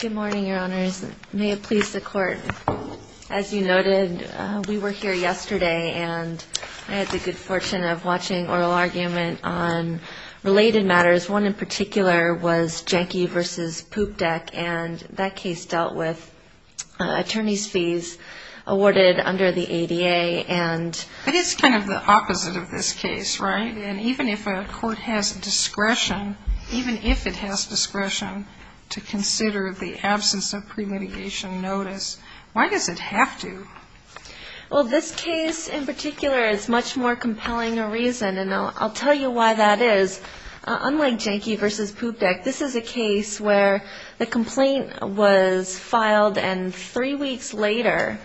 Good morning, Your Honors. May it please the Court. As you noted, we were here yesterday, and I had the good fortune of watching oral argument on related matters. One in particular was Janky v. Poop Deck, and that case dealt with attorney's fees awarded under the ADA. But it's kind of the opposite of this case, right? And even if a court has discretion, even if it has discretion to consider the absence of pre-litigation notice, why does it have to? Well, this case in particular is much more compelling a reason, and I'll tell you why that is. Unlike Janky v. Poop Deck, this is a case where the complaint was filed, and three weeks later,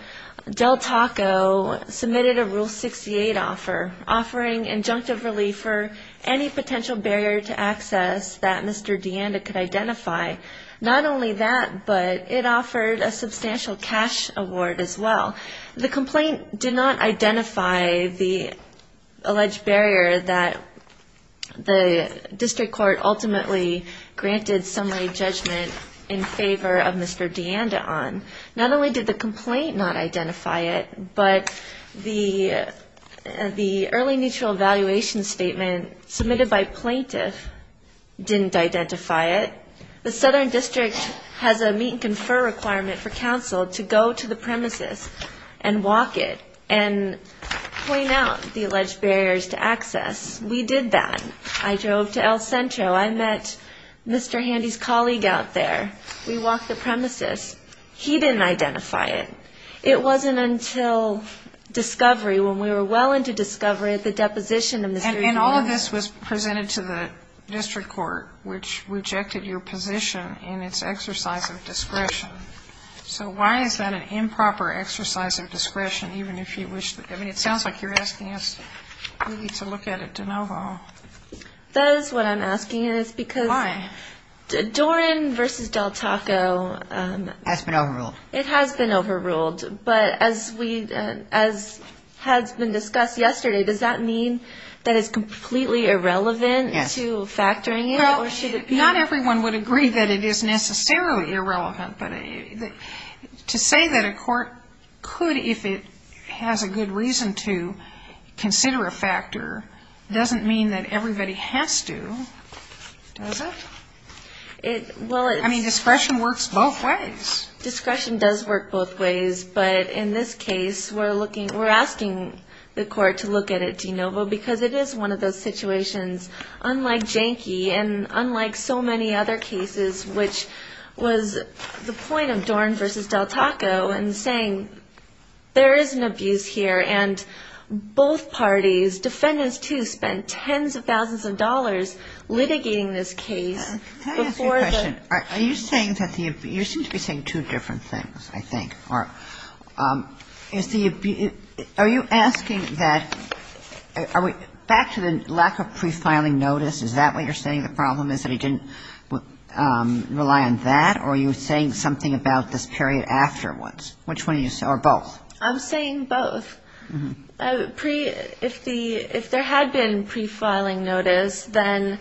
Del Taco submitted a Rule 68 offer, offering injunctive relief for any potential barrier to access that Mr. Deanda could identify. Not only that, but it offered a substantial cash award as well. The complaint did not identify the alleged barrier that the district court ultimately granted summary judgment in favor of Mr. Deanda on. Not only did the complaint not identify it, but the early neutral evaluation statement submitted by plaintiff didn't identify it. The Southern District has a meet-and-confer requirement for counsel to go to the premises and walk it and point out the alleged barriers to access. We did that. I drove to El Centro. I met Mr. Handy's colleague out there. We walked the premises. He didn't identify it. It wasn't until discovery, when we were well into discovery, the deposition of Mr. Deanda. And all of this was presented to the district court, which rejected your position in its exercise of discretion. So why is that an improper exercise of discretion, even if you wish to? I mean, it sounds like you're asking us really to look at it de novo. That is what I'm asking. It's because Doran versus Del Taco has been overruled. It has been overruled. But as we as has been discussed yesterday, does that mean that is completely irrelevant to factoring? Well, not everyone would agree that it is necessarily irrelevant. But to say that a court could, if it has a good reason to, consider a factor doesn't mean that everybody has to, does it? I mean, discretion works both ways. Discretion does work both ways. But in this case, we're asking the court to look at it de novo, because it is one of those situations, unlike Janke and unlike so many other cases, which was the point of Doran versus Del Taco in saying there is an abuse here. And both parties, defendants too, spent tens of thousands of dollars litigating this case. Can I ask you a question? You seem to be saying two different things, I think. Are you asking that, back to the lack of pre-filing notice, is that what you're saying the problem is that he didn't rely on that? Or are you saying something about this period afterwards? Which one are you saying, or both? I'm saying both. If there had been pre-filing notice, then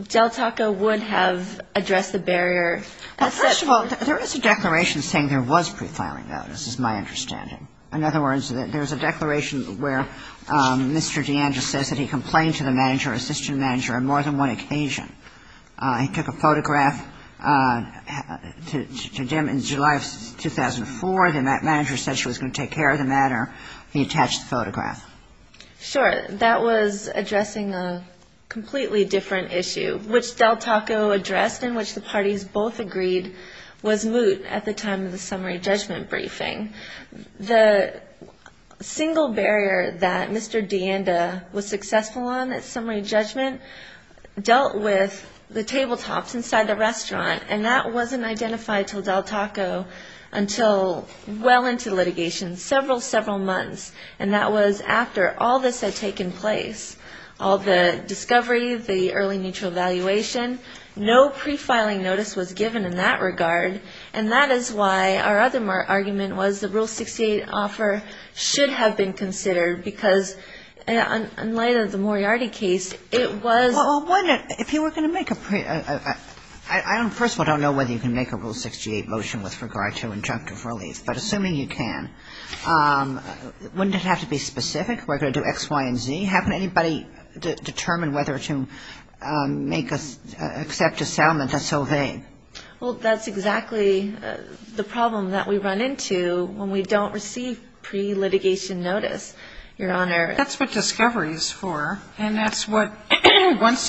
Del Taco would have addressed the barrier. Well, first of all, there is a declaration saying there was pre-filing notice, is my understanding. In other words, there's a declaration where Mr. D'Andrea says that he complained to the manager, assistant manager, on more than one occasion. He took a photograph to Dem in July of 2004, and that manager said she was going to take care of the matter. He attached the photograph. Sure. That was addressing a completely different issue, which Del Taco addressed and which the parties both agreed was moot at the time of the summary judgment briefing. The single barrier that Mr. D'Andrea was successful on at summary judgment dealt with the tabletops inside the restaurant, and that wasn't identified to Del Taco until well into litigation, several, several months. And that was after all this had taken place. All the discovery, the early neutral evaluation, no pre-filing notice was given in that regard, and that is why our other argument was the Rule 68 offer should have been considered, because in light of the Moriarty case, it was... Well, that's exactly the problem that we run into when we don't receive pre-litigation notice, Your Honor. That's what discovery is for, and that's what,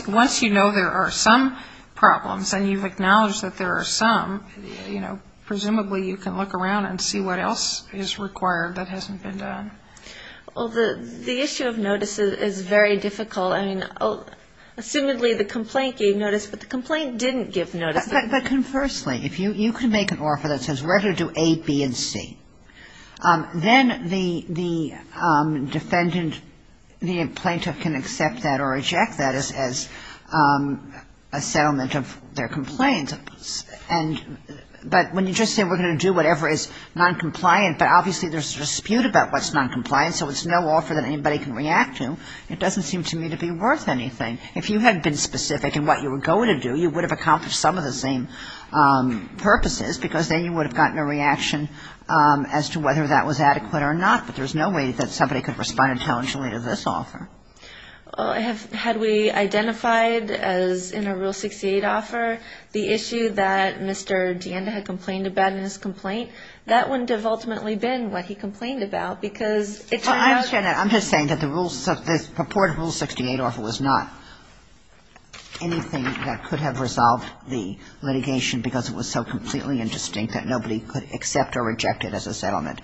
once you know there are some problems, and you've acknowledged that there are some, you know, presumably you can look around and see what else is required that hasn't been done. Well, the issue of notice is very difficult. I mean, assumedly the complaint gave notice, but the complaint didn't give notice. But conversely, if you can make an offer that says we're going to do A, B, and C, then the defendant, the plaintiff can accept that or reject that as a settlement of their complaint. But when you just say we're going to do whatever is noncompliant, but obviously there's a dispute about what's noncompliant, so it's no offer that anybody can react to, it doesn't seem to me to be worth anything. If you had been specific in what you were going to do, you would have accomplished some of the same purposes, because then you would have gotten a reaction as to whether that was adequate or not. But there's no way that somebody could respond intelligently to this offer. Had we identified as in a Rule 68 offer the issue that Mr. DeAnda had complained about in his complaint, that wouldn't have ultimately been what he complained about, because it turned out to be an issue. Well, I understand that. I'm just saying that the rules of this purported Rule 68 offer was not anything that could have resolved the litigation because it was so completely indistinct that nobody could accept or reject it as a settlement,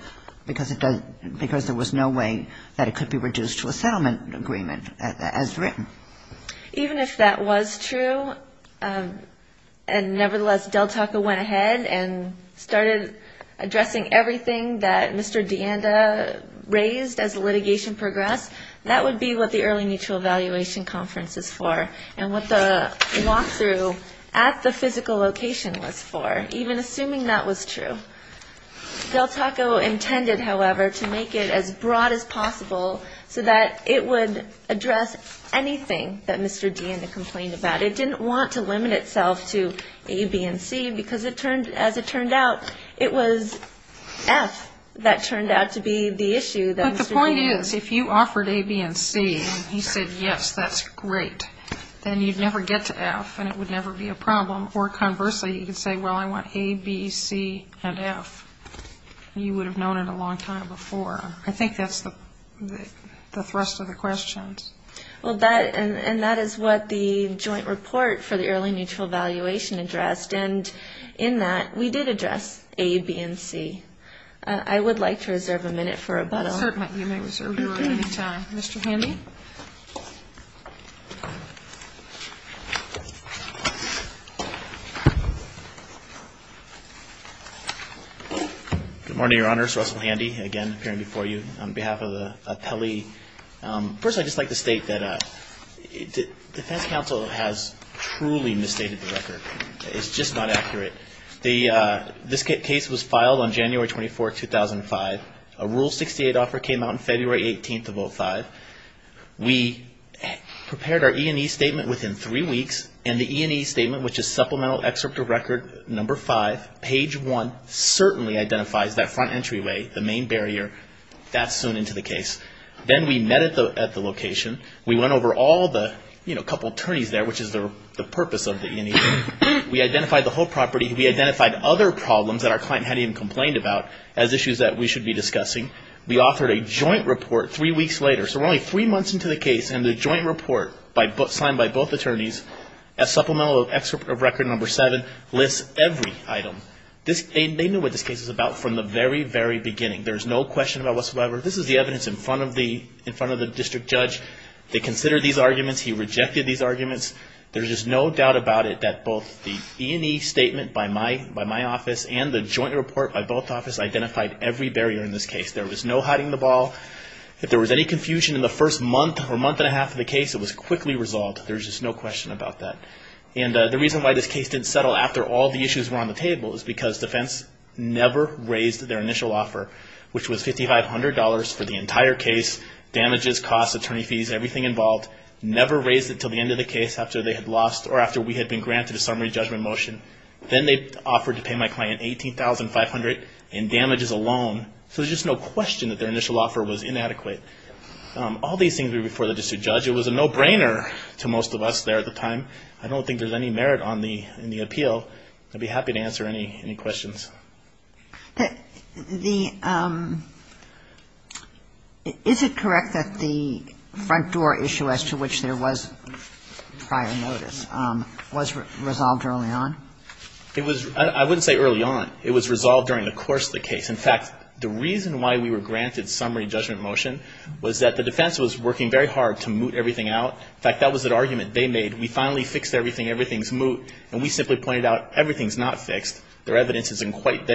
because it doesn't – because there was no way that it could be reduced to a settlement. It was a settlement agreement as written. Even if that was true, and nevertheless, Del Taco went ahead and started addressing everything that Mr. DeAnda raised as litigation progressed, that would be what the early mutual evaluation conference is for and what the walk-through at the physical location was for, even assuming that was true. Del Taco intended, however, to make it as broad as possible so that it would address anything that Mr. DeAnda complained about. It didn't want to limit itself to A, B, and C because it turned – as it turned out, it was F that turned out to be the issue that Mr. DeAnda – you would have known it a long time before. I think that's the thrust of the questions. Well, that – and that is what the joint report for the early mutual evaluation addressed. And in that, we did address A, B, and C. I would like to reserve a minute for rebuttal. Certainly. You may reserve your own time. Mr. Handy? Good morning, Your Honors. Russell Handy, again, appearing before you on behalf of the appellee. First, I'd just like to state that the defense counsel has truly misstated the record. It's just not accurate. The – this case was filed on January 24, 2005. A Rule 68 offer came out on February 18th of 05. We prepared our E&E statement within three weeks, and the E&E statement, which is supplemental excerpt of record number five, page one, certainly identifies that front entryway, the main barrier. That's soon into the case. Then we met at the location. We went over all the – you know, a couple attorneys there, which is the purpose of the E&E. We identified the whole property. We identified other problems that our client hadn't even complained about as issues that we should be discussing. We offered a joint report three weeks later. So we're only three months into the case, and the joint report signed by both attorneys, a supplemental excerpt of record number seven, lists every item. They knew what this case was about from the very, very beginning. There's no question about whatsoever. This is the evidence in front of the district judge. They considered these arguments. He rejected these arguments. There's just no doubt about it that both the E&E statement by my office and the joint report by both offices identified every barrier in this case. There was no hiding the ball. If there was any confusion in the first month or month and a half of the case, it was quickly resolved. There's just no question about that. And the reason why this case didn't settle after all the issues were on the table is because defense never raised their initial offer, which was $5,500 for the entire case, damages, costs, attorney fees, everything involved. Never raised it until the end of the case after they had lost or after we had been granted a summary judgment motion. Then they offered to pay my client $18,500 in damages alone. So there's just no question that their initial offer was inadequate. All these things were before the district judge. It was a no-brainer to most of us there at the time. I don't think there's any merit in the appeal. I'd be happy to answer any questions. Is it correct that the front door issue as to which there was prior notice was resolved early on? It was ‑‑ I wouldn't say early on. It was resolved during the course of the case. In fact, the reason why we were granted summary judgment motion was that the defense was working very hard to moot everything out. In fact, that was an argument they made. We finally fixed everything. Everything's moot. And we simply pointed out everything's not fixed. Their evidence is incorrect.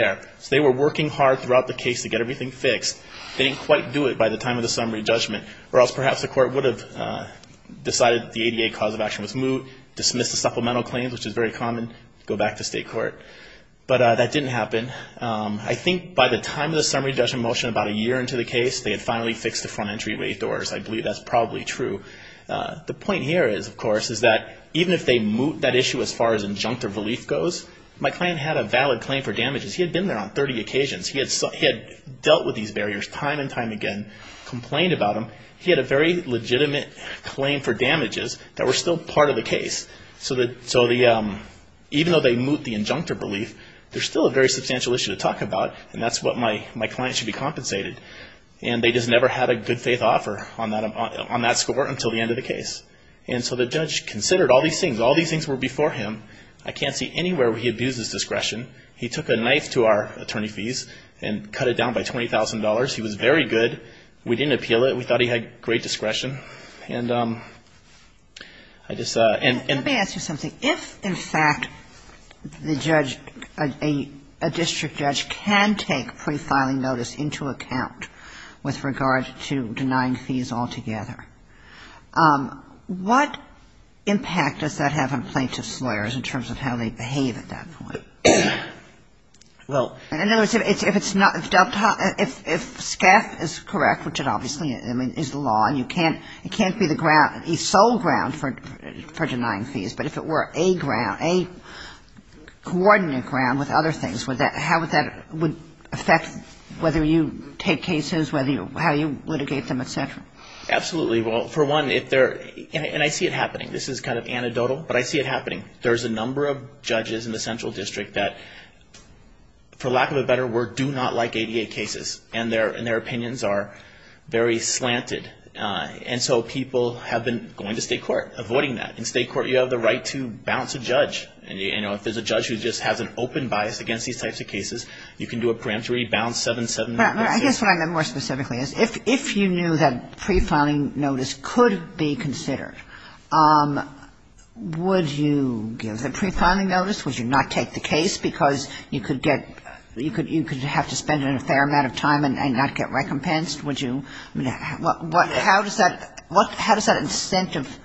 They were working hard throughout the case to get everything fixed. They didn't quite do it by the time of the summary judgment, or else perhaps the court would have decided that the ADA cause of action was moot, dismissed the supplemental claims, which is very common, go back to state court. But that didn't happen. I think by the time of the summary judgment motion about a year into the case, they had finally fixed the front entryway doors. I believe that's probably true. The point here is, of course, is that even if they moot that issue as far as injunctive relief goes, my client had a valid claim for damages. He had been there on 30 occasions. He had dealt with these barriers time and time again, complained about them. He had a very legitimate claim for damages that were still part of the case. So even though they moot the injunctive relief, there's still a very substantial issue to talk about, and that's what my client should be compensated. And they just never had a good faith offer on that score until the end of the case. And so the judge considered all these things. All these things were before him. I can't see anywhere where he abused his discretion. He took a knife to our attorney fees and cut it down by $20,000. He was very good. We didn't appeal it. We thought he had great discretion. And I just ---- Let me ask you something. If, in fact, the judge, a district judge can take pre-filing notice into account with regard to denying fees altogether, what impact does that have on plaintiff's lawyers? In terms of how they behave at that point. Well ---- In other words, if it's not ---- if SCAF is correct, which it obviously is the law, and you can't be the ground, the sole ground for denying fees, but if it were a ground, a coordinate ground with other things, how would that affect whether you take cases, whether you ---- how you litigate them, et cetera? Absolutely. Well, for one, if they're ---- and I see it happening. This is kind of anecdotal, but I see it happening. There's a number of judges in the central district that, for lack of a better word, do not like ADA cases. And their opinions are very slanted. And so people have been going to state court, avoiding that. In state court, you have the right to bounce a judge. And, you know, if there's a judge who just has an open bias against these types of cases, you can do a preemptory bounce 7-7. I guess what I meant more specifically is if you knew that pre-filing notice could be considered, would you give the pre-filing notice? Would you not take the case because you could get ---- you could have to spend a fair amount of time and not get recompensed? Would you ---- how does that incentive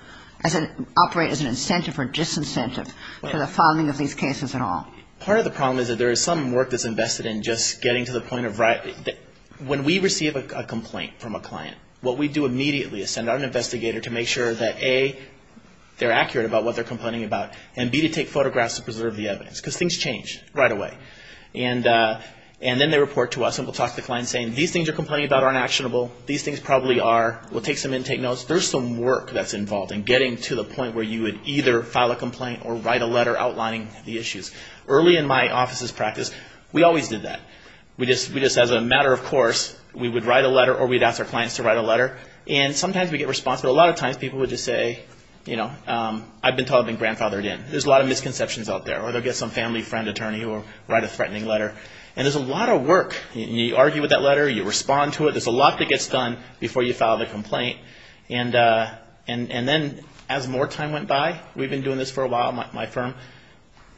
operate as an incentive or disincentive for the filing of these cases at all? Part of the problem is that there is some work that's invested in just getting to the point of right ---- when we receive a complaint from a client, what we do immediately is send out an investigator to make sure that, A, they're accurate about what they're complaining about, and, B, to take photographs to preserve the evidence. Because things change right away. And then they report to us and we'll talk to the client saying, these things you're complaining about aren't actionable. These things probably are. We'll take some intake notes. There's some work that's involved in getting to the point where you would either file a complaint or write a letter outlining the issues. Early in my office's practice, we always did that. We just, as a matter of course, we would write a letter or we'd ask our clients to write a letter. And sometimes we'd get response, but a lot of times people would just say, you know, I've been told I've been grandfathered in. There's a lot of misconceptions out there. Or they'll get some family friend attorney who will write a threatening letter. And there's a lot of work. You argue with that letter. You respond to it. There's a lot that gets done before you file the complaint. And then as more time went by, we've been doing this for a while at my firm,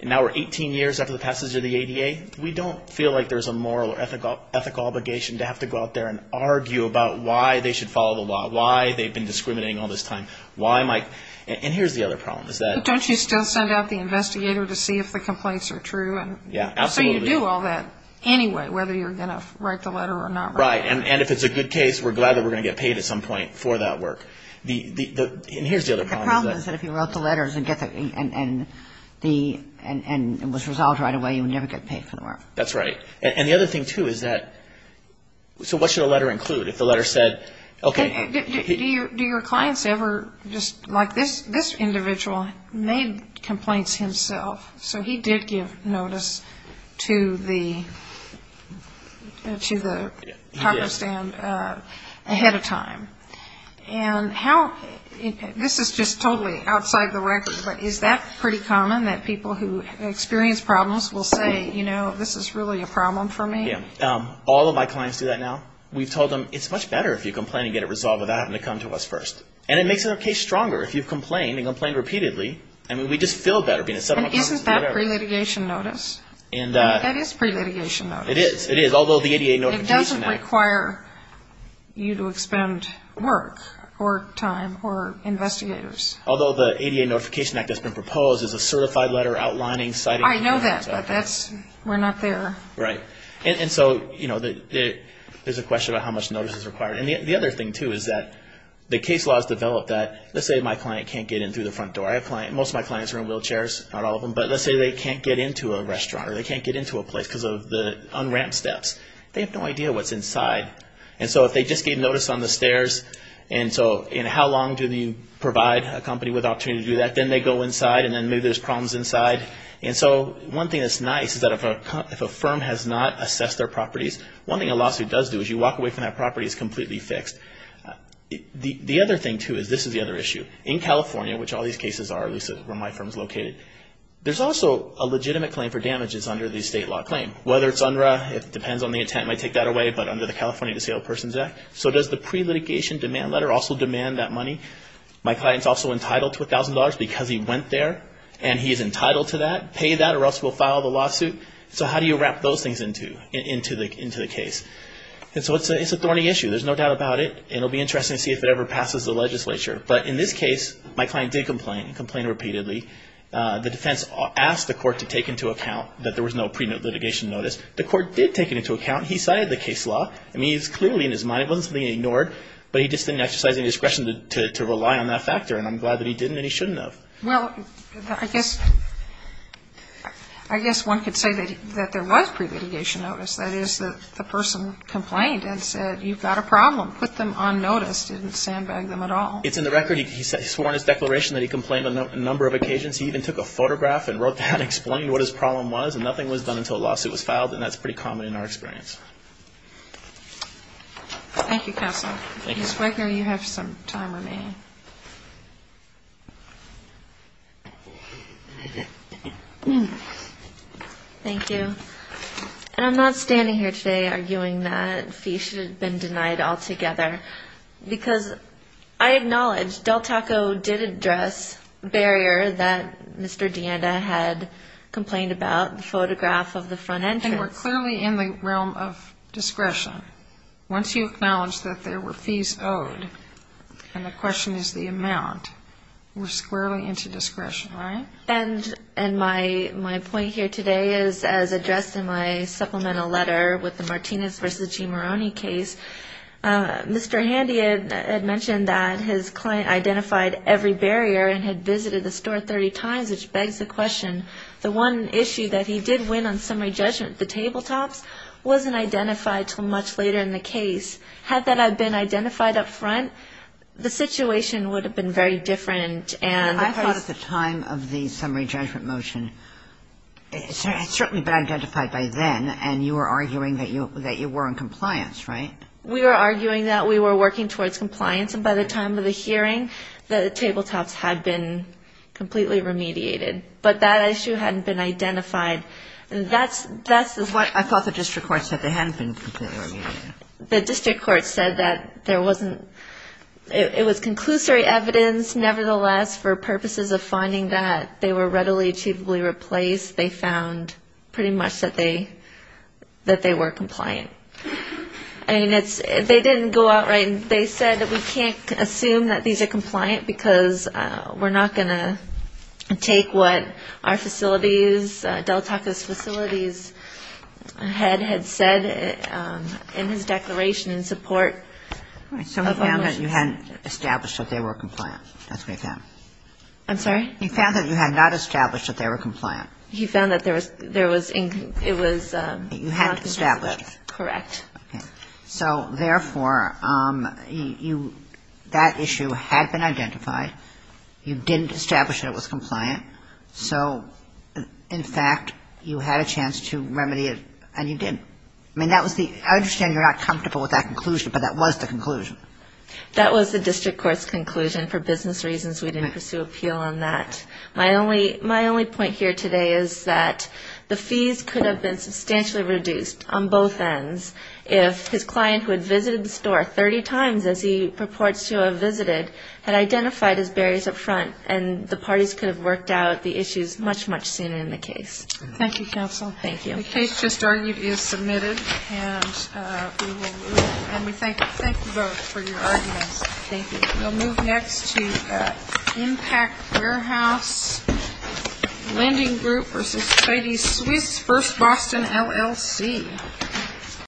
and now we're 18 years after the passage of the ADA. We don't feel like there's a moral or ethical obligation to have to go out there and argue about why they should follow the law, why they've been discriminating all this time. And here's the other problem. Don't you still send out the investigator to see if the complaints are true? Yeah, absolutely. So you do all that anyway, whether you're going to write the letter or not. Right. And if it's a good case, we're glad that we're going to get paid at some point for that work. And here's the other problem. The problem is that if you wrote the letters and it was resolved right away, you would never get paid for the work. That's right. And the other thing, too, is that so what should a letter include? If the letter said, okay. Do your clients ever, just like this individual, made complaints himself? So he did give notice to the copperstand ahead of time. And this is just totally outside the record, but is that pretty common that people who experience problems will say, you know, this is really a problem for me? Yeah. All of my clients do that now. We've told them it's much better if you complain and get it resolved without having to come to us first. And it makes the case stronger if you've complained and complained repeatedly. I mean, we just feel better being a settlement company. And isn't that pre-litigation notice? That is pre-litigation notice. It is. It is, although the ADA Notification Act. It doesn't require you to expend work or time or investigators. Although the ADA Notification Act that's been proposed is a certified letter outlining, citing. I know that, but we're not there. Right. And so, you know, there's a question about how much notice is required. And the other thing, too, is that the case laws develop that. Let's say my client can't get in through the front door. Most of my clients are in wheelchairs, not all of them. But let's say they can't get into a restaurant or they can't get into a place because of the unramped steps. They have no idea what's inside. And so if they just gave notice on the stairs, and so how long do you provide a company with the opportunity to do that? Then they go inside, and then maybe there's problems inside. And so one thing that's nice is that if a firm has not assessed their properties, one thing a lawsuit does do is you walk away from that property as completely fixed. The other thing, too, is this is the other issue. In California, which all these cases are, at least where my firm is located, there's also a legitimate claim for damages under the state law claim. Whether it's UNRRA, it depends on the intent, might take that away, but under the California Disabled Persons Act. So does the pre-litigation demand letter also demand that money? My client's also entitled to $1,000 because he went there and he's entitled to that, pay that or else we'll file the lawsuit. So how do you wrap those things into the case? And so it's a thorny issue. There's no doubt about it. It'll be interesting to see if it ever passes the legislature. But in this case, my client did complain, complained repeatedly. The defense asked the court to take into account that there was no pre-litigation notice. The court did take it into account. He cited the case law. I mean, it's clearly in his mind. It wasn't something he ignored. But he just didn't exercise any discretion to rely on that factor. And I'm glad that he didn't and he shouldn't have. Well, I guess one could say that there was pre-litigation notice. That is, the person complained and said, you've got a problem. Put them on notice. Didn't sandbag them at all. It's in the record. He's sworn his declaration that he complained on a number of occasions. He even took a photograph and wrote that and explained what his problem was. And nothing was done until a lawsuit was filed, and that's pretty common in our experience. Thank you, counsel. Thank you. Ms. Wecker, you have some time remaining. Thank you. And I'm not standing here today arguing that fees should have been denied altogether, because I acknowledge Del Taco did address a barrier that Mr. DeAnda had complained about, the photograph of the front entrance. And we're clearly in the realm of discretion. Once you acknowledge that there were fees owed, and the question is the amount, we're squarely into discretion, right? And my point here today is, as addressed in my supplemental letter with the Martinez v. G. Maroney case, Mr. Handy had mentioned that his client identified every barrier and had visited the store 30 times, which begs the question, the one issue that he did win on summary judgment, the tabletops, wasn't identified until much later in the case. Had that been identified up front, the situation would have been very different. I thought at the time of the summary judgment motion, it had certainly been identified by then, and you were arguing that you were in compliance, right? We were arguing that we were working towards compliance. And by the time of the hearing, the tabletops had been completely remediated. But that issue hadn't been identified. I thought the district court said they hadn't been completely remediated. The district court said that it was conclusory evidence, nevertheless, for purposes of finding that they were readily, achievably replaced, they found pretty much that they were compliant. I mean, they didn't go out right. They said that we can't assume that these are compliant because we're not going to take what our facilities, Del Taco's facilities head had said in his declaration in support of our motions. So he found that you hadn't established that they were compliant. That's what he found. I'm sorry? He found that you had not established that they were compliant. He found that it was not in compliance. You had to establish. Correct. So, therefore, that issue had been identified. You didn't establish that it was compliant. So, in fact, you had a chance to remedy it, and you did. I mean, that was the ‑‑ I understand you're not comfortable with that conclusion, but that was the conclusion. That was the district court's conclusion. For business reasons, we didn't pursue appeal on that. My only point here today is that the fees could have been substantially reduced on both ends if his client, who had visited the store 30 times as he purports to have visited, had identified his barriers up front, and the parties could have worked out the issues much, much sooner in the case. Thank you, counsel. Thank you. The case just argued is submitted, and we thank you both for your arguments. Thank you. We'll move next to Impact Warehouse Lending Group v. Katie Swiss, 1st Boston, LLC.